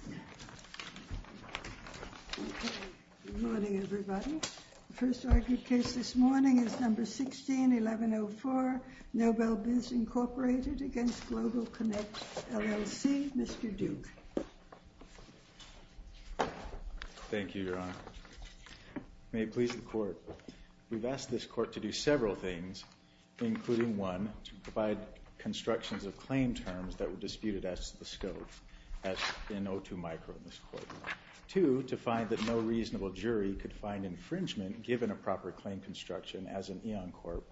Mr. Duke. Thank you, Your Honor. May it please the Court. We've asked this Court to do several things, including one, to provide constructions of claim terms that were disputed as to the nature of the claim, and two, to find that no reasonable jury could find infringement given a proper claim construction as an Eon Corp.,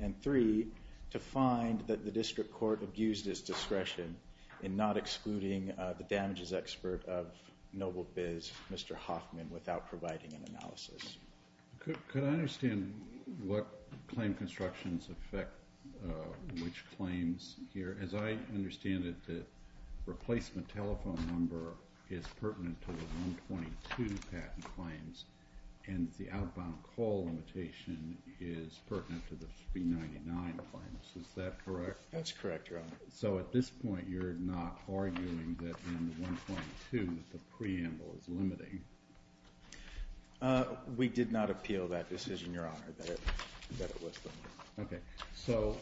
and three, to find that the District Court abused its discretion in not excluding the damages expert of NobleBiz, Mr. Hoffman, without providing an analysis. Could I understand what claim constructions affect which claims here? As I understand it, the replacement telephone number is pertinent to the 122 patent claims, and the outbound call limitation is pertinent to the 399 claims. Is that correct? That's correct, Your Honor. So at this point, you're not arguing that in the 122, the preamble is limiting? We did not appeal that decision, Your Honor, that it was limiting. Okay. So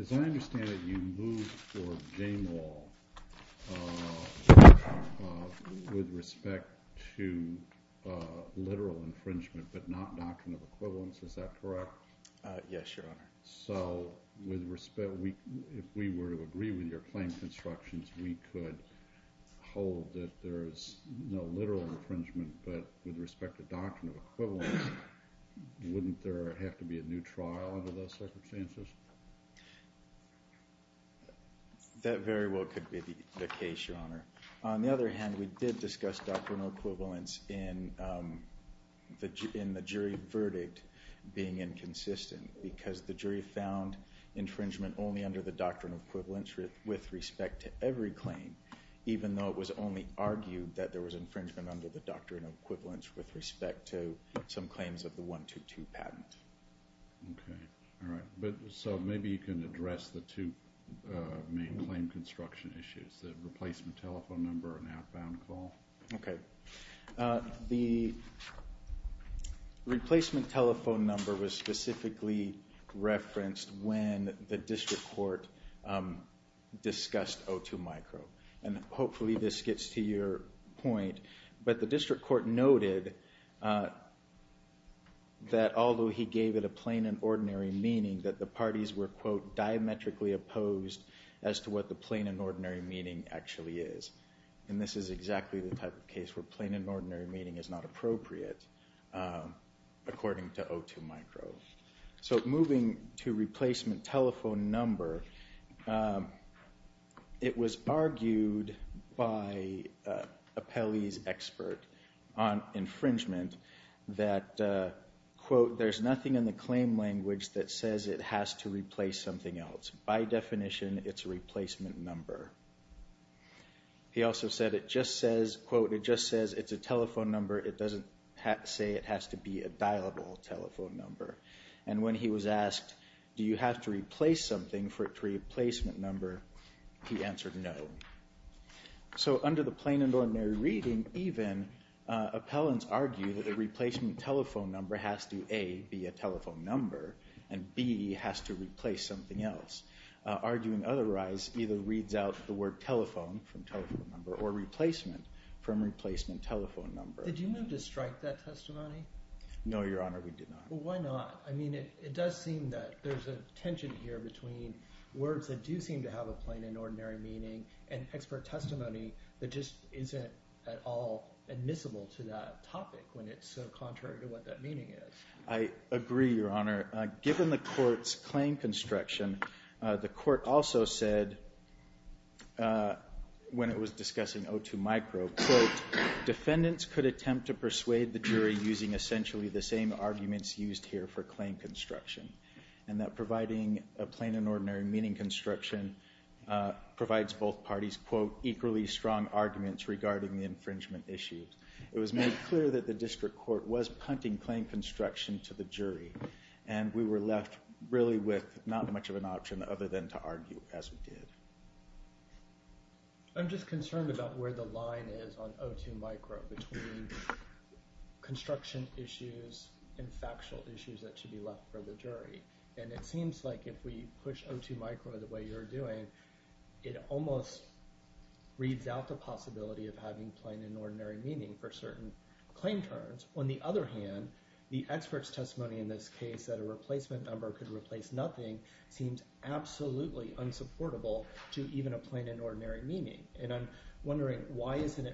as I understand it, you moved for game law with respect to literal infringement, but not doctrine of equivalence. Is that correct? Yes, Your Honor. So if we were to agree with your claim constructions, we could hold that there is no literal infringement, but with respect to doctrine of equivalence, wouldn't there have to be a new trial under those circumstances? That very well could be the case, Your Honor. On the other hand, we did discuss doctrine of equivalence in the jury verdict being inconsistent, because the jury found infringement only under the doctrine of equivalence with respect to every claim, even though it was only argued that there was infringement under the doctrine of equivalence with respect to some claims of the 122 patent. Okay. All right. So maybe you can address the two main claim construction issues, the replacement telephone number and outbound call. Okay. The replacement telephone number was specifically referenced when the district court discussed O2 micro, and hopefully this gets to your point, but the district court noted that although he gave it a plain and ordinary meaning, that the parties were, quote, diametrically opposed as to what the plain and ordinary meaning actually is. And this is exactly the type of case where plain and ordinary meaning is not appropriate according to O2 micro. So moving to replacement telephone number, it was argued by a Pelley's expert on infringement that, quote, there's nothing in the claim language that says it has to replace something else. By definition, it's a replacement number. He also said it just says, quote, it just says it's a telephone number. It doesn't say it has to be a dialable telephone number. And when he was asked, do you have to replace something for a replacement number, he answered no. So under the plain and ordinary reading, even appellants argue that a replacement telephone number has to A, be a telephone number, and B, has to replace something else. Arguing otherwise either reads out the word telephone from telephone number or replacement from replacement telephone number. Did you move to strike that testimony? No, Your Honor, we did not. Well, why not? I mean, it does seem that there's a tension here between words that do seem to have a plain and ordinary meaning and expert testimony that just isn't at all admissible to that topic when it's so contrary to what that meaning is. I agree, Your Honor. Given the court's claim construction, the court also said when it was discussing O2 micro, quote, defendants could attempt to persuade the jury using essentially the same arguments used here for claim construction, and that providing a plain and ordinary meaning construction provides both parties, quote, equally strong arguments regarding the infringement issues. It was made clear that the district court was punting claim construction to the jury, and we were left really with not much of an option other than to argue as we did. I'm just concerned about where the line is on O2 micro between construction issues and factual issues that should be left for the jury, and it seems like if we push O2 micro the way you're doing, it almost reads out the possibility of having plain and ordinary meaning for certain claim terms. On the other hand, the expert's testimony in this case that a replacement number could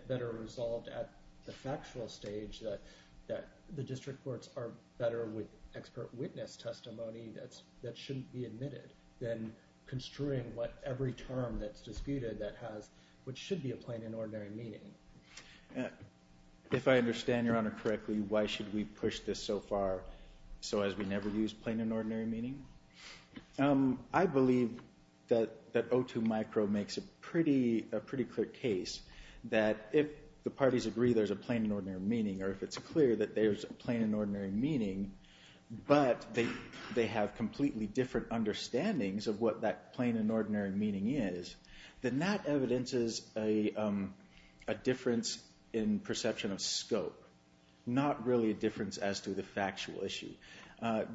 better resolve at the factual stage that the district courts are better with expert witness testimony that shouldn't be admitted than construing what every term that's disputed that has what should be a plain and ordinary meaning. If I understand Your Honor correctly, why should we push this so far so as we never use plain and ordinary meaning? I believe that O2 micro makes a pretty clear case that if the parties agree there's a plain and ordinary meaning, or if it's clear that there's a plain and ordinary meaning, but they have completely different understandings of what that plain and ordinary meaning is, then that evidences a difference in perception of scope, not really a difference as to the factual issue.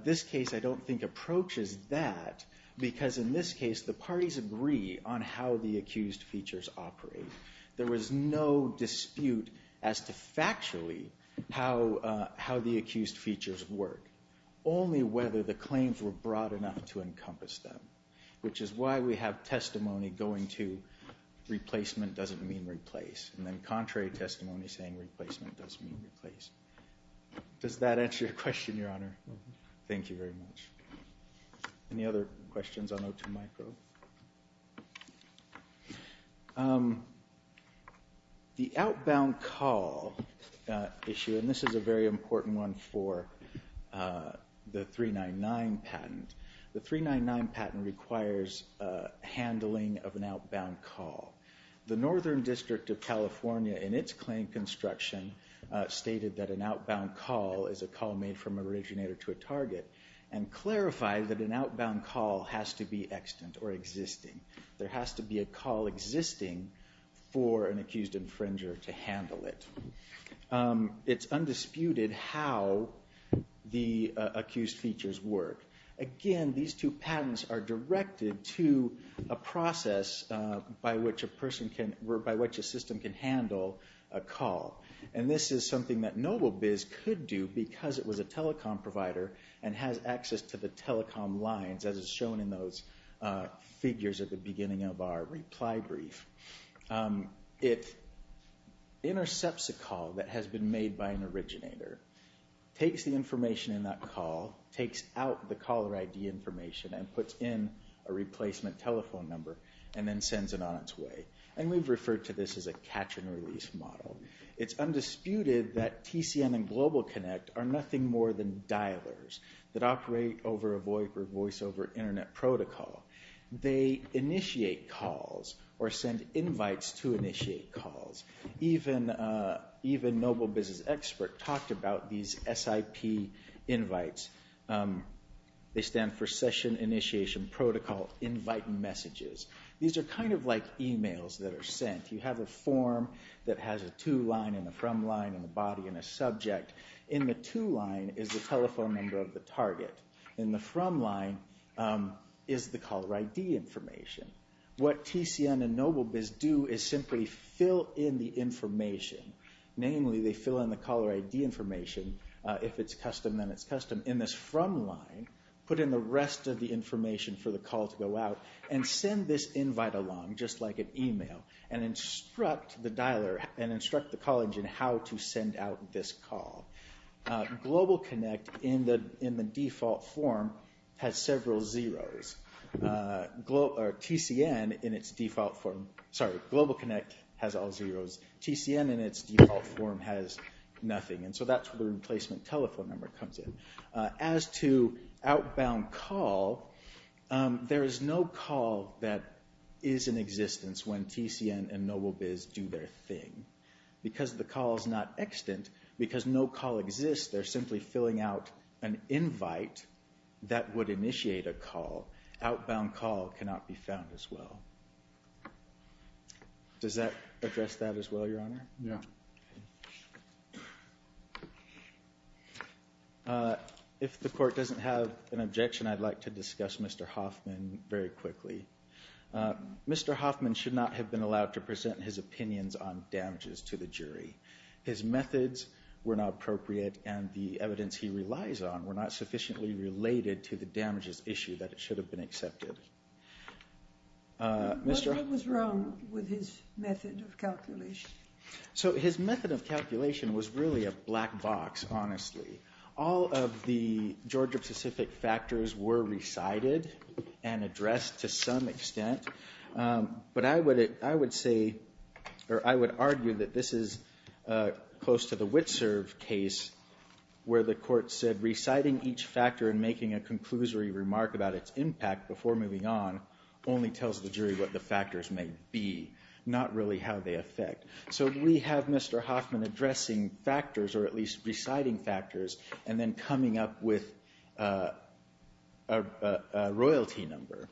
This case I don't think approaches that because in this case the parties agree on how the accused features operate. There was no dispute as to factually how the accused features work, only whether the claims were broad enough to encompass them, which is why we have testimony going to replacement doesn't mean replace, and then contrary testimony saying replacement doesn't mean replace. Does that answer your question, Your Honor? Thank you very much. Any other questions on O2 micro? The outbound call issue, and this is a very important one for the 399 patent, the 399 patent requires handling of an outbound call. The Northern Statement stated that an outbound call is a call made from an originator to a target, and clarified that an outbound call has to be extant or existing. There has to be a call existing for an accused infringer to handle it. It's undisputed how the accused features work. Again, these two patents are directed to a process by which a system can handle a call, and this is something that Noblebiz could do because it was a telecom provider and has access to the telecom lines as is shown in those figures at the beginning of our reply brief. It intercepts a call that has been made by an originator, takes the information in that call, takes out the caller ID information and puts in a replacement telephone number, and then sends it on its way. And we've referred to this as a catch and release model. It's undisputed that TCN and Global Connect are nothing more than dialers that operate over a voiceover internet protocol. They initiate calls or send invites to initiate calls. Even Noblebiz's expert talked about these SIP invites. They stand for Session Initiation Protocol Invite Messages. These are kind of like emails that are sent. You have a form that has a to line and a from line and a body and a subject. In the to line is the telephone number of the target. In the from line is the caller ID information. What TCN and Noblebiz do is simply fill in the information. Namely, they fill in the caller ID information. If it's custom, then it's custom. In this from line, put in the rest of the information for the call to go out and send this invite along, just like an email, and instruct the caller how to send out this call. Global Connect, in the default form, has several zeros. TCN, in its default form, has all zeros. TCN, in its default form, has nothing. So that's where the replacement telephone number comes in. As to outbound call, there is no call that is in existence when TCN and Noblebiz do their thing. Because the call is not extant, because no call exists, they're simply filling out an invite that would initiate a call. Outbound call cannot be found as well. Does that address that as well, Your Honor? Yeah. If the court doesn't have an objection, I'd like to discuss Mr. Hoffman very quickly. Mr. Hoffman should not have been allowed to present his opinions on damages to the jury. His methods were not appropriate, and the evidence he relies on were not sufficiently related to the damages issue that it should have been accepted. What was wrong with his method of calculation? So his method of calculation was really a black box, honestly. All of the Georgia-specific factors were recited and addressed to some extent. But I would argue that this is close to the Witserv case, where the court said reciting each factor and making a conclusory remark about its impact before moving on only tells the jury what the factors may be, not really how they affect. So we have Mr. Hoffman addressing factors, or at least reciting factors, and then coming up with a royalty number.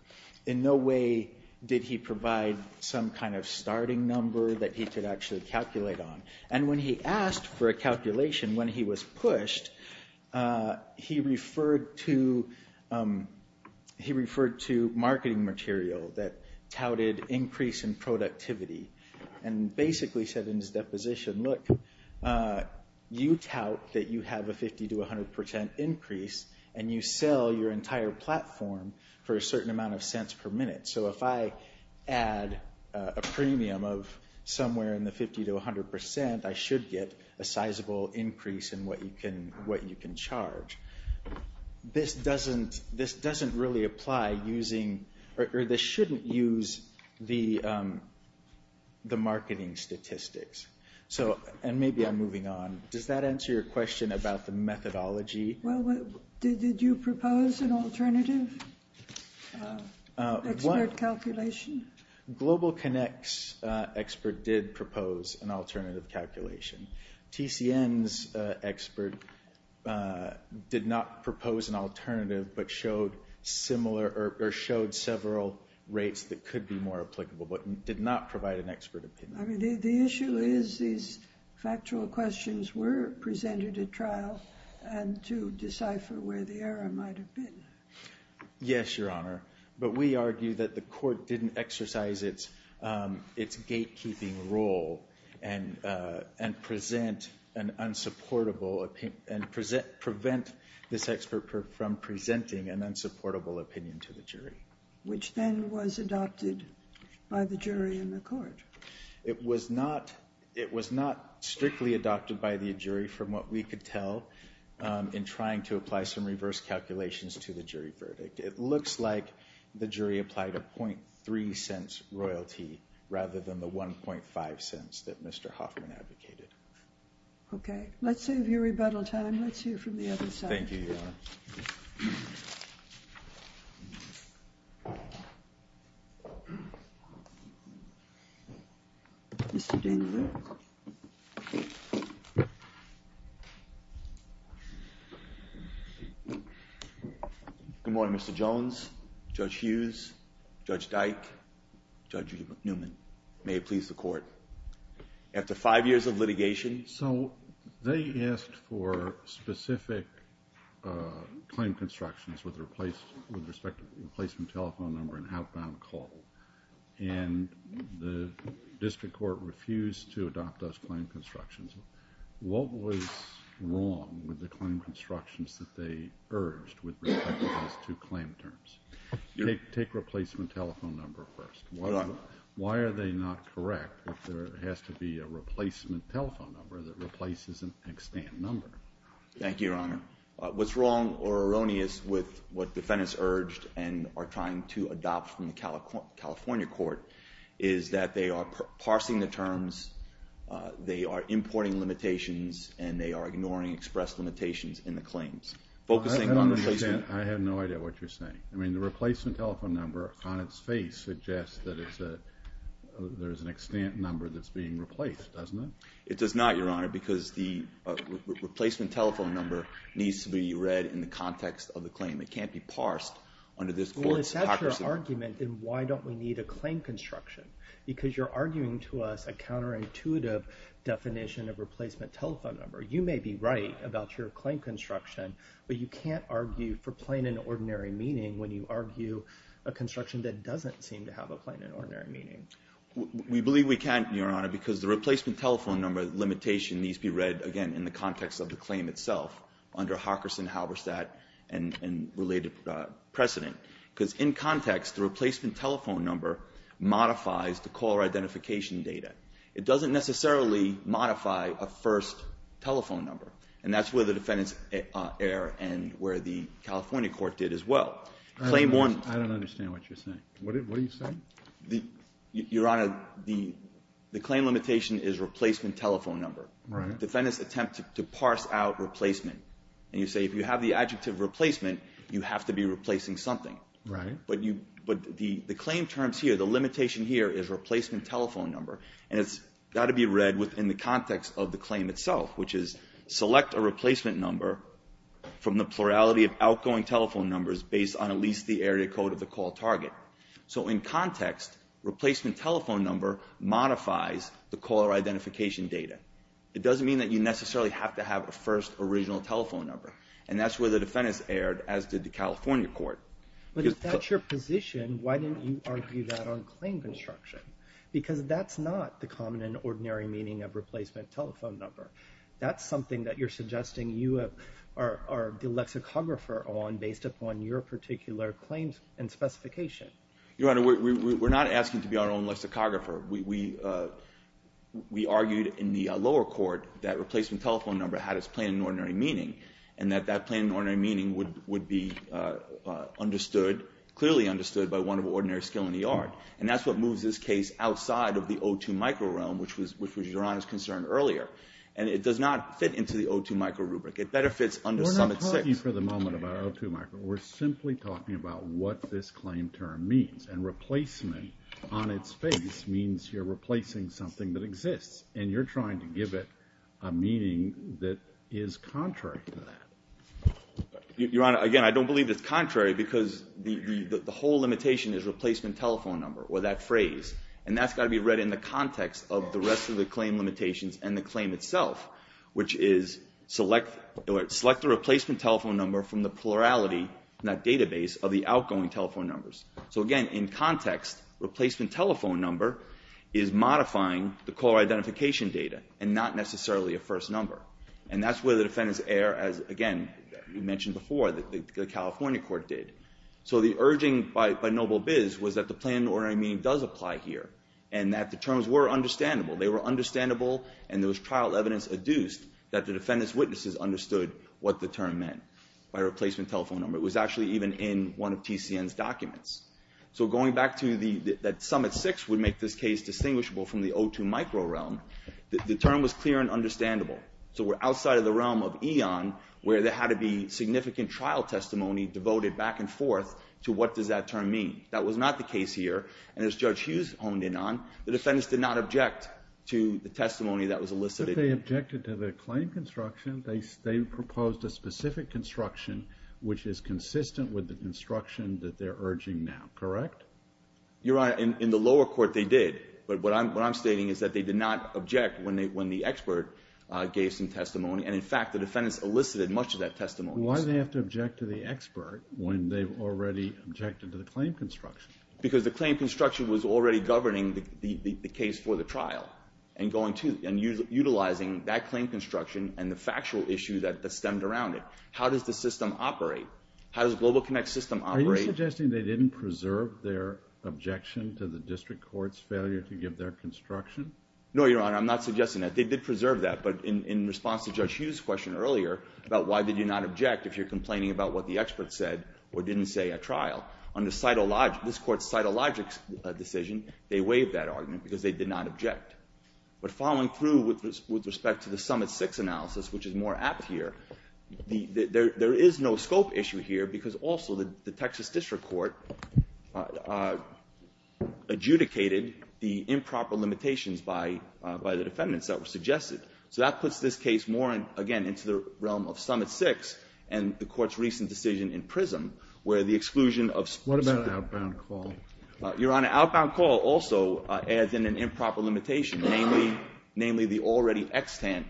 In no way did he provide some kind of starting number that he could actually calculate on. And when he asked for a calculation when he was pushed, he referred to marketing material that touted increase in productivity, and basically said in his deposition, look, you tout that you have a 50-100% increase, and you sell your entire platform for a certain amount of cents per minute. So if I add a premium of somewhere in the 50-100%, I should get a sizable increase in what you can charge. This doesn't really apply using, or this shouldn't use the marketing statistics. And maybe I'm moving on. Does that answer your question about the methodology? Well, did you propose an alternative expert calculation? Global Connect's expert did propose an alternative calculation. TCN's expert did not propose an alternative, but showed similar, or showed several rates that could be more applicable, but did not provide an expert opinion. I mean, the issue is these factual questions were presented at trial, and to decipher where the error might have been. Yes, Your Honor. But we argue that the court didn't exercise its gatekeeping role and present an unsupportable, and prevent this expert from presenting an unsupportable opinion to the jury. Which then was adopted by the jury in the court. It was not strictly adopted by the jury, from what we could tell, in trying to apply some reverse calculations to the jury verdict. It looks like the jury applied a .3 cents royalty, rather than the 1.5 cents that Mr. Hoffman advocated. Okay. Let's save your rebuttal time. Let's hear from the other side. Thank you, Your Honor. Mr. Daniel. Good morning, Mr. Jones, Judge Hughes, Judge Dyke, Judge Newman. May it please the court. After five years of litigation. So, they asked for specific claim constructions with respect to the replacement telephone number and outbound call. And the district court refused to adopt those claim constructions. What was wrong with the claim constructions that they urged with respect to those two claim terms? Take replacement telephone number first. Why are they not correct if there has to be a replacement telephone number that replaces an extant number? Thank you, Your Honor. What's wrong or erroneous with what defendants urged and are trying to adopt from the California court is that they are parsing the terms, they are importing limitations, and they are ignoring express limitations in the claims. I have no idea what you're saying. I mean, the replacement telephone number on its face suggests that there's an extant number that's being replaced, doesn't it? It does not, Your Honor, because the replacement telephone number needs to be read in the context of the claim itself under Hockerson, Halberstadt, and related precedent. Because in context, the replacement telephone number modifies the caller identification data. It doesn't necessarily modify a first telephone number. And that's where the defendants err and where the California court did as well. I don't understand what you're saying. What are you saying? Your Honor, the claim limitation is replacement telephone number. Right. Defendants attempt to parse out replacement. And you say if you have the adjective replacement, you have to be replacing something. Right. But the claim terms here, the limitation here is replacement telephone number. And it's got to be read within the context of the claim itself, which is select a replacement number from the plurality of outgoing telephone numbers based on at least the area code of the call target. So in context, replacement telephone number modifies the caller identification data. It doesn't mean that you necessarily have to have a first original telephone number. And that's where the defendants erred, as did the California court. But if that's your position, why didn't you argue that on claim construction? Because that's not the common and ordinary meaning of replacement telephone number. That's something that you're suggesting you are the lexicographer on based upon your particular claims and specification. Your Honor, we're not asking to be our own lexicographer. We argued in the lower court that replacement telephone number had its plain and ordinary meaning, and that that plain and ordinary meaning would be understood, clearly understood by one of ordinary skill in the yard. And that's what moves this case outside of the O2 micro realm, which was Your Honor's concern earlier. And it does not fit into the O2 micro rubric. It better fits under Summit 6. We're not talking for the moment about O2 micro. We're simply talking about what this claim term means. And replacement on its face means you're replacing something that exists. And you're trying to give it a meaning that is contrary to that. Your Honor, again, I don't believe it's contrary because the whole limitation is replacement telephone number or that phrase. And that's got to be read in the context of the rest of the claim limitations and the claim itself, which is select the replacement telephone number from the plurality in that database of the outgoing telephone numbers. So again, in context, replacement telephone number is modifying the caller identification data and not necessarily a first number. And that's where the defendants err as, again, you mentioned before, the California court did. So the urging by Noble-Biz was that the plain and ordinary meaning does apply here, and that the terms were understandable. They were understandable, and there was trial evidence adduced that the defendant's witnesses understood what the term meant by replacement telephone number. It was actually even in one of TCN's documents. So going back to that Summit 6 would make this case distinguishable from the O2 micro realm, the term was clear and understandable. So we're outside of the realm of EON, where there had to be significant trial testimony devoted back and forth to what does that term mean. That was not the case here. And as Judge Hughes honed in on, the defendants did not object to the testimony that was elicited. If they objected to the claim construction, they proposed a specific construction, which is consistent with the construction that they're urging now, correct? Your Honor, in the lower court they did. But what I'm stating is that they did not object when the expert gave some testimony. And, in fact, the defendants elicited much of that testimony. Why do they have to object to the expert when they've already objected to the claim construction? Because the claim construction was already governing the case for the trial and utilizing that claim construction and the factual issue that stemmed around it. How does the system operate? How does GlobalConnect's system operate? Are you suggesting they didn't preserve their objection to the district court's failure to give their construction? No, Your Honor. I'm not suggesting that. They did preserve that. But in response to Judge Hughes' question earlier about why did you not object if you're complaining about what the expert said or didn't say at trial, under this court's cytologic decision, they waived that argument because they did not object. But following through with respect to the Summit 6 analysis, which is more apt here, there is no scope issue here because also the Texas District Court adjudicated the improper limitations by the defendants that were suggested. So that puts this case more, again, into the realm of Summit 6 and the Court's recent decision in PRISM, where the exclusion of specific ---- What about an outbound call? Your Honor, outbound call also adds in an improper limitation, namely the already extant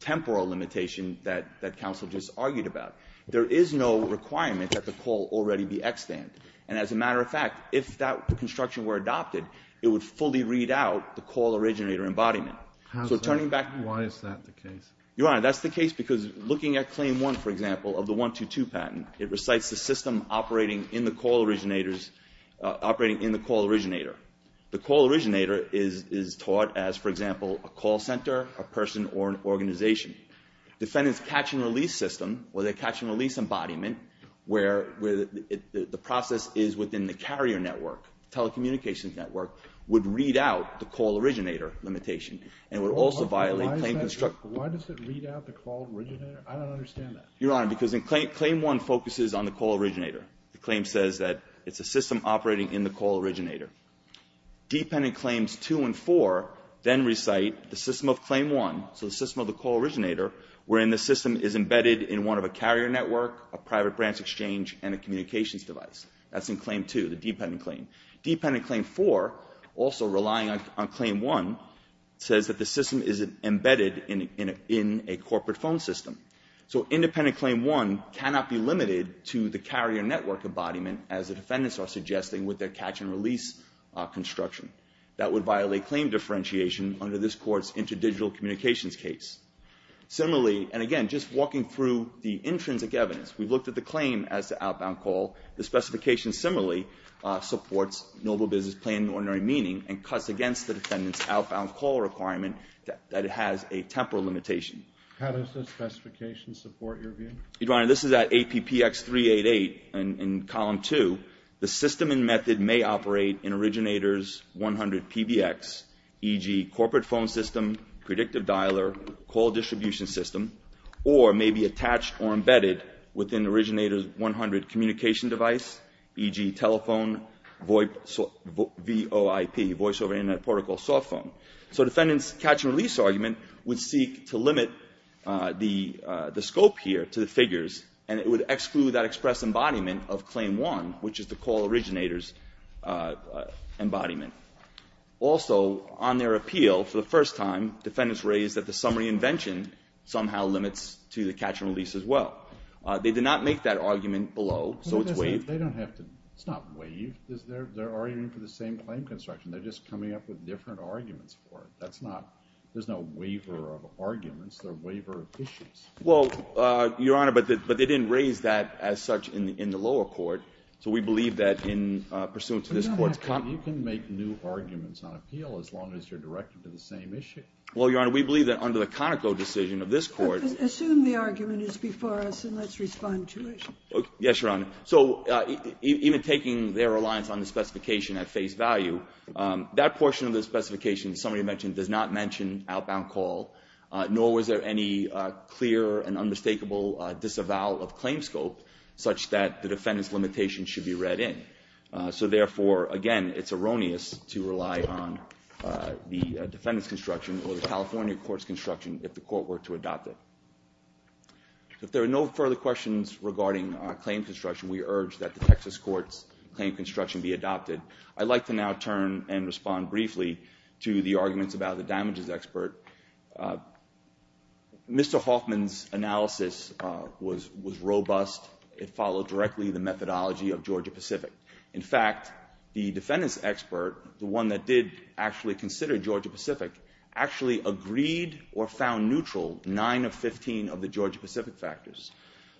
temporal limitation that counsel just argued about. There is no requirement that the call already be extant. And as a matter of fact, if that construction were adopted, it would fully read out the call originator embodiment. So turning back ---- Why is that the case? Your Honor, that's the case because looking at Claim 1, for example, of the 122 patent, it recites the system operating in the call originators ---- operating in the call originator. The call originator is taught as, for example, a call center, a person, or an organization. Defendants' catch and release system or their catch and release embodiment where the process is within the carrier network, telecommunications network, would read out the call originator limitation and would also violate claim construction. Why does it read out the call originator? I don't understand that. Your Honor, because in Claim 1 focuses on the call originator. The claim says that it's a system operating in the call originator. Dependent Claims 2 and 4 then recite the system of Claim 1, so the system of the call originator, wherein the system is embedded in one of a carrier network, a private branch exchange, and a communications device. That's in Claim 2, the dependent claim. Dependent Claim 4, also relying on Claim 1, says that the system is embedded in a corporate phone system. So independent Claim 1 cannot be limited to the carrier network embodiment as the defendants are suggesting with their catch and release construction. That would violate claim differentiation under this Court's interdigital communications case. Similarly, and again, just walking through the intrinsic evidence, we've looked at the claim as the outbound call. The specification similarly supports noble business plan in ordinary meaning and cuts against the defendant's outbound call requirement that it has a temporal limitation. How does the specification support your view? Your Honor, this is at APPX388 in Column 2. The system and method may operate in originator's 100 PBX, e.g., corporate phone system, predictive dialer, call distribution system, or may be attached or embedded within originator's 100 communication device, e.g., telephone VOIP, voice over internet protocol soft phone. So defendant's catch and release argument would seek to limit the scope here to the figures, and it would exclude that express embodiment of Claim 1, which is the call originator's embodiment. Also, on their appeal for the first time, defendants raised that the summary invention somehow limits to the catch and release as well. They did not make that argument below, so it's waived. They don't have to. It's not waived. They're arguing for the same claim construction. They're just coming up with different arguments for it. That's not – there's no waiver of arguments. They're waiver of issues. Well, Your Honor, but they didn't raise that as such in the lower court, so we believe that in pursuant to this Court's – But, Your Honor, you can make new arguments on appeal as long as you're directed to the same issue. Well, Your Honor, we believe that under the Conoco decision of this Court – Assume the argument is before us, and let's respond to it. Yes, Your Honor. So even taking their reliance on the specification at face value, that portion of the specification, the summary invention, does not mention outbound call, nor was there any clear and unmistakable disavowal of claim scope such that the defendant's limitation should be read in. So therefore, again, it's erroneous to rely on the defendant's construction or the California court's construction if the court were to adopt it. If there are no further questions regarding claim construction, we urge that the Texas Court's claim construction be adopted. I'd like to now turn and respond briefly to the arguments about the damages expert Mr. Hoffman's analysis was robust. It followed directly the methodology of Georgia-Pacific. In fact, the defendant's expert, the one that did actually consider Georgia-Pacific, actually agreed or found neutral 9 of 15 of the Georgia-Pacific factors.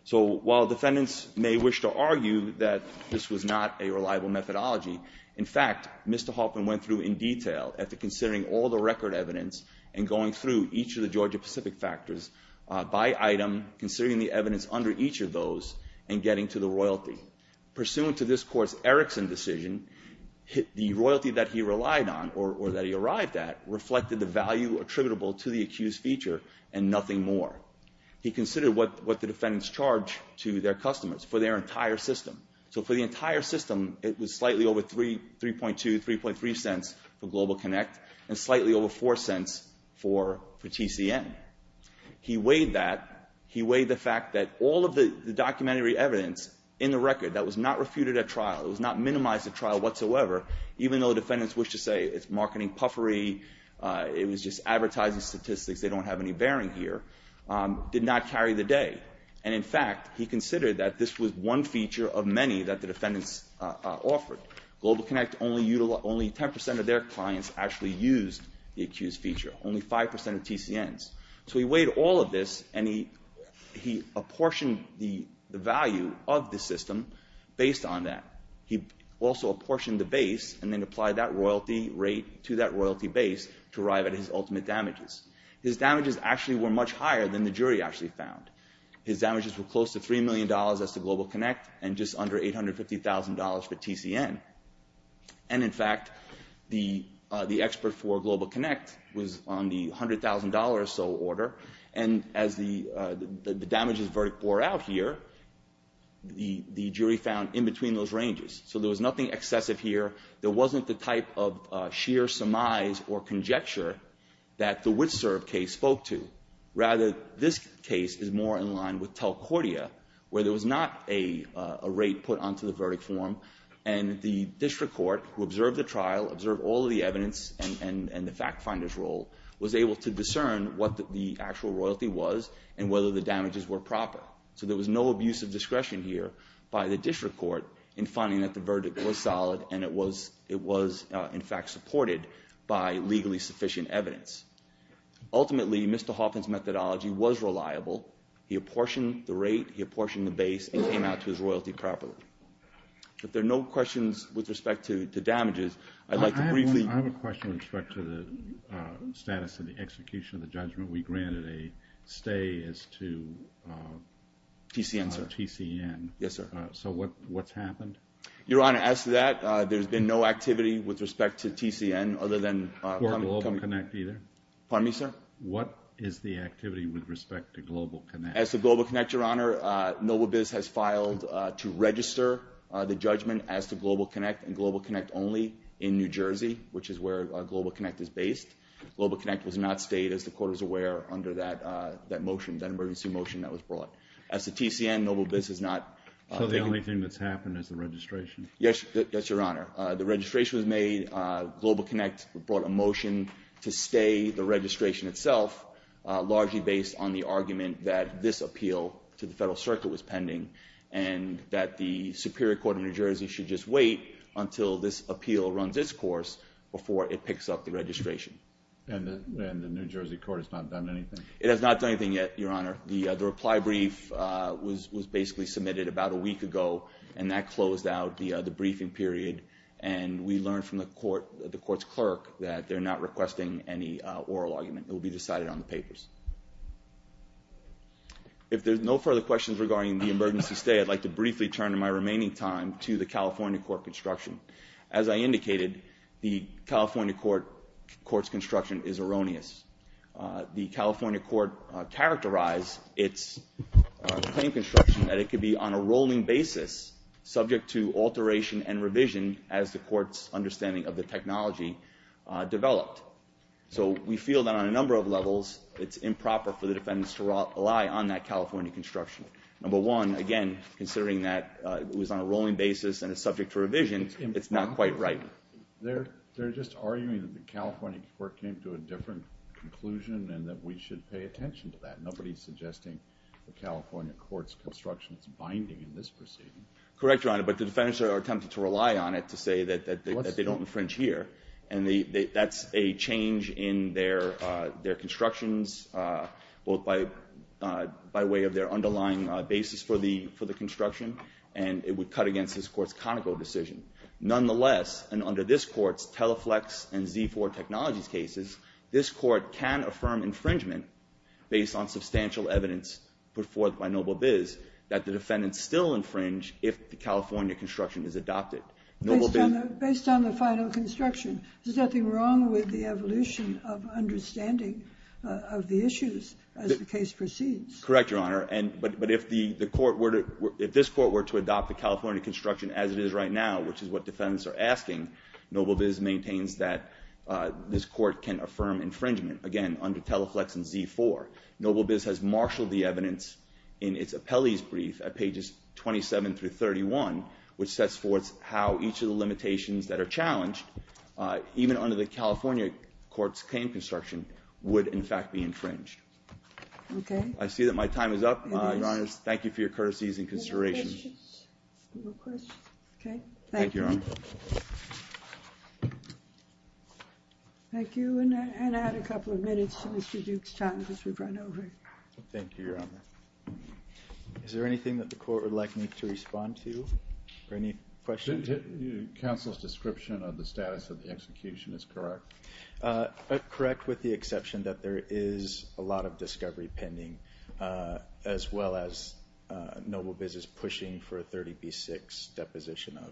So while defendants may wish to argue that this was not a reliable methodology, in fact, Mr. Hoffman went through in detail after considering all the record evidence and going through each of the Georgia-Pacific factors by item, considering the evidence under each of those, and getting to the royalty. Pursuant to this court's Erickson decision, the royalty that he relied on or that he arrived at reflected the value attributable to the accused feature and nothing more. He considered what the defendants charged to their customers for their entire system. So for the entire system, it was slightly over 3.2, 3.3 cents for Global Connect and slightly over 4 cents for TCM. He weighed that, he weighed the fact that all of the documentary evidence in the record that was not refuted at trial, it was not minimized at trial whatsoever, even though the defendants wished to say it's marketing puffery, it was just advertising statistics, they don't have any bearing here, did not carry the day. And in fact, he considered that this was one feature of many that the defendants offered. Global Connect, only 10% of their clients actually used the accused feature. Only 5% of TCMs. So he weighed all of this and he apportioned the value of the system based on that. He also apportioned the base and then applied that royalty rate to that royalty base to arrive at his ultimate damages. His damages actually were much higher than the jury actually found. His damages were close to $3 million as to Global Connect and just under $850,000 for TCM. And in fact, the expert for Global Connect was on the $100,000 or so order and as the damages bore out here, the jury found in between those ranges. So there was nothing excessive here. There wasn't the type of sheer surmise or conjecture that the Witserv case spoke to. Rather, this case is more in line with Telcordia where there was not a rate put onto the verdict form and the district court who observed the trial, observed all of the evidence and the fact finder's role was able to discern what the actual royalty was and whether the damages were proper. So there was no abuse of discretion here by the district court in finding that the verdict was solid and it was in fact supported by legally sufficient evidence. Ultimately, Mr. Hoffman's methodology was reliable. He apportioned the rate. He apportioned the base. It came out to his royalty properly. If there are no questions with respect to damages, I'd like to briefly. I have a question with respect to the status of the execution of the judgment. We granted a stay as to TCM. Yes, sir. So what's happened? Your Honor, as to that, there's been no activity with respect to TCM other than. Pardon me, sir. What is the activity with respect to Global Connect? As to Global Connect, Your Honor, Noble Biz has filed to register the judgment as to Global Connect and Global Connect only in New Jersey, which is where Global Connect is based. Global Connect was not stayed as the court was aware under that motion, that emergency motion that was brought. As to TCM, Noble Biz has not. So the only thing that's happened is the registration. Yes, Your Honor. The registration was made. Global Connect brought a motion to stay the registration itself, largely based on the argument that this appeal to the Federal Circuit was pending and that the Superior Court of New Jersey should just wait until this appeal runs its course before it picks up the registration. And the New Jersey court has not done anything? It has not done anything yet, Your Honor. The reply brief was basically submitted about a week ago, and that closed out the briefing period, and we learned from the court's clerk that they're not requesting any oral argument. It will be decided on the papers. If there's no further questions regarding the emergency stay, I'd like to briefly turn in my remaining time to the California court construction. As I indicated, the California court's construction is erroneous. The California court characterized its claim construction that it could be on a rolling basis subject to alteration and revision as the court's understanding of the technology developed. So we feel that on a number of levels, it's improper for the defendants to rely on that California construction. Number one, again, considering that it was on a rolling basis and is subject to revision, it's not quite right. They're just arguing that the California court came to a different conclusion and that we should pay attention to that. Nobody's suggesting the California court's construction is binding in this proceeding. Correct, Your Honor, but the defendants are attempting to rely on it to say that they don't infringe here, and that's a change in their constructions both by way of their underlying basis for the construction, and it would cut against this court's conical decision. Nonetheless, and under this court's Teleflex and Z4 Technologies cases, this court can affirm infringement based on substantial evidence put forth by Noble-Biz that the defendants still infringe if the California construction is adopted. Based on the final construction, there's nothing wrong with the evolution of understanding of the issues as the case proceeds. Correct, Your Honor, but if this court were to adopt the California construction as it is right now, which is what defendants are asking, Noble-Biz maintains that this court can affirm infringement, again, under Teleflex and Z4. Noble-Biz has marshaled the evidence in its appellee's brief at pages 27 through 31, which sets forth how each of the limitations that are challenged, even under the California court's claim construction, would in fact be infringed. Okay. I see that my time is up, Your Honor. Thank you for your courtesies and considerations. Any questions? No questions? Okay, thank you. Thank you, Your Honor. Thank you, and I'll add a couple of minutes to Mr. Duke's time because we've run over. Thank you, Your Honor. Is there anything that the court would like me to respond to or any questions? Counsel's description of the status of the execution is correct. Correct, with the exception that there is a lot of discovery pending as well as Noble-Biz is pushing for a 30B6 deposition of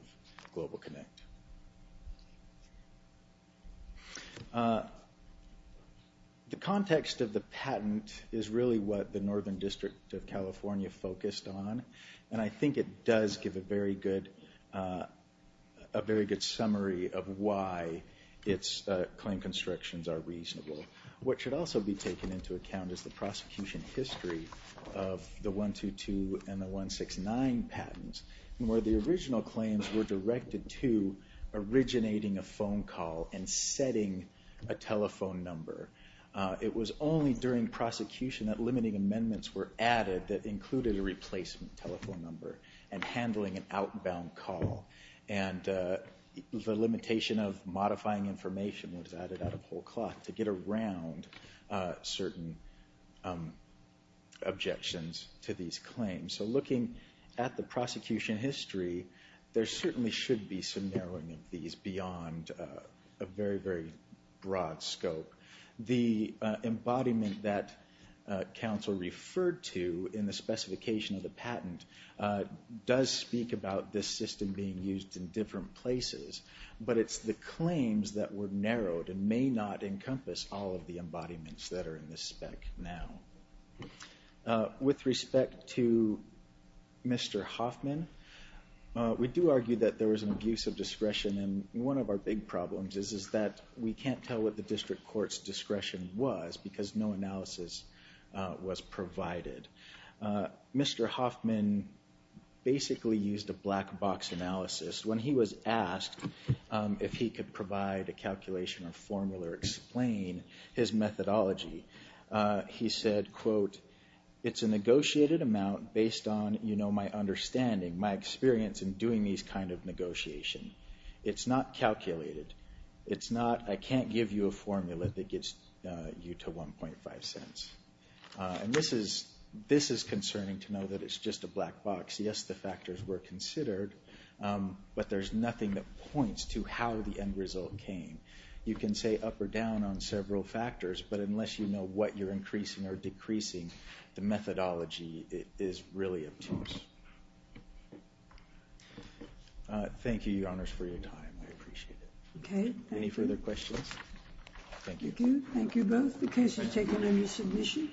Global Connect. The context of the patent is really what the Northern District of California focused on, and I think it does give a very good summary of why its claim constructions are reasonable. What should also be taken into account is the prosecution history of the 122 and the 169 patents where the original claims were directed to originating a phone call and setting a telephone number. It was only during prosecution that limiting amendments were added that included a replacement telephone number and handling an outbound call, and the limitation of modifying information was added out of whole cloth to get around certain objections to these claims. So looking at the prosecution history, there certainly should be some narrowing of these beyond a very, very broad scope. The embodiment that counsel referred to in the specification of the patent does speak about this system being used in different places, but it's the claims that were narrowed and may not encompass all of the embodiments that are in this spec now. With respect to Mr. Hoffman, we do argue that there was an abuse of discretion, and one of our big problems is that we can't tell what the district court's discretion was because no analysis was provided. Mr. Hoffman basically used a black box analysis. When he was asked if he could provide a calculation or formula or explain his methodology, he said, quote, it's a negotiated amount based on my understanding, my experience in doing these kind of negotiations. It's not calculated. It's not I can't give you a formula that gets you to 1.5 cents. And this is concerning to know that it's just a black box. Yes, the factors were considered, but there's nothing that points to how the end result came. You can say up or down on several factors, but unless you know what you're increasing or decreasing, the methodology is really obtuse. Thank you, Your Honors, for your time. I appreciate it. Okay. Any further questions? Thank you. Thank you. Thank you both. The case is taken under submission.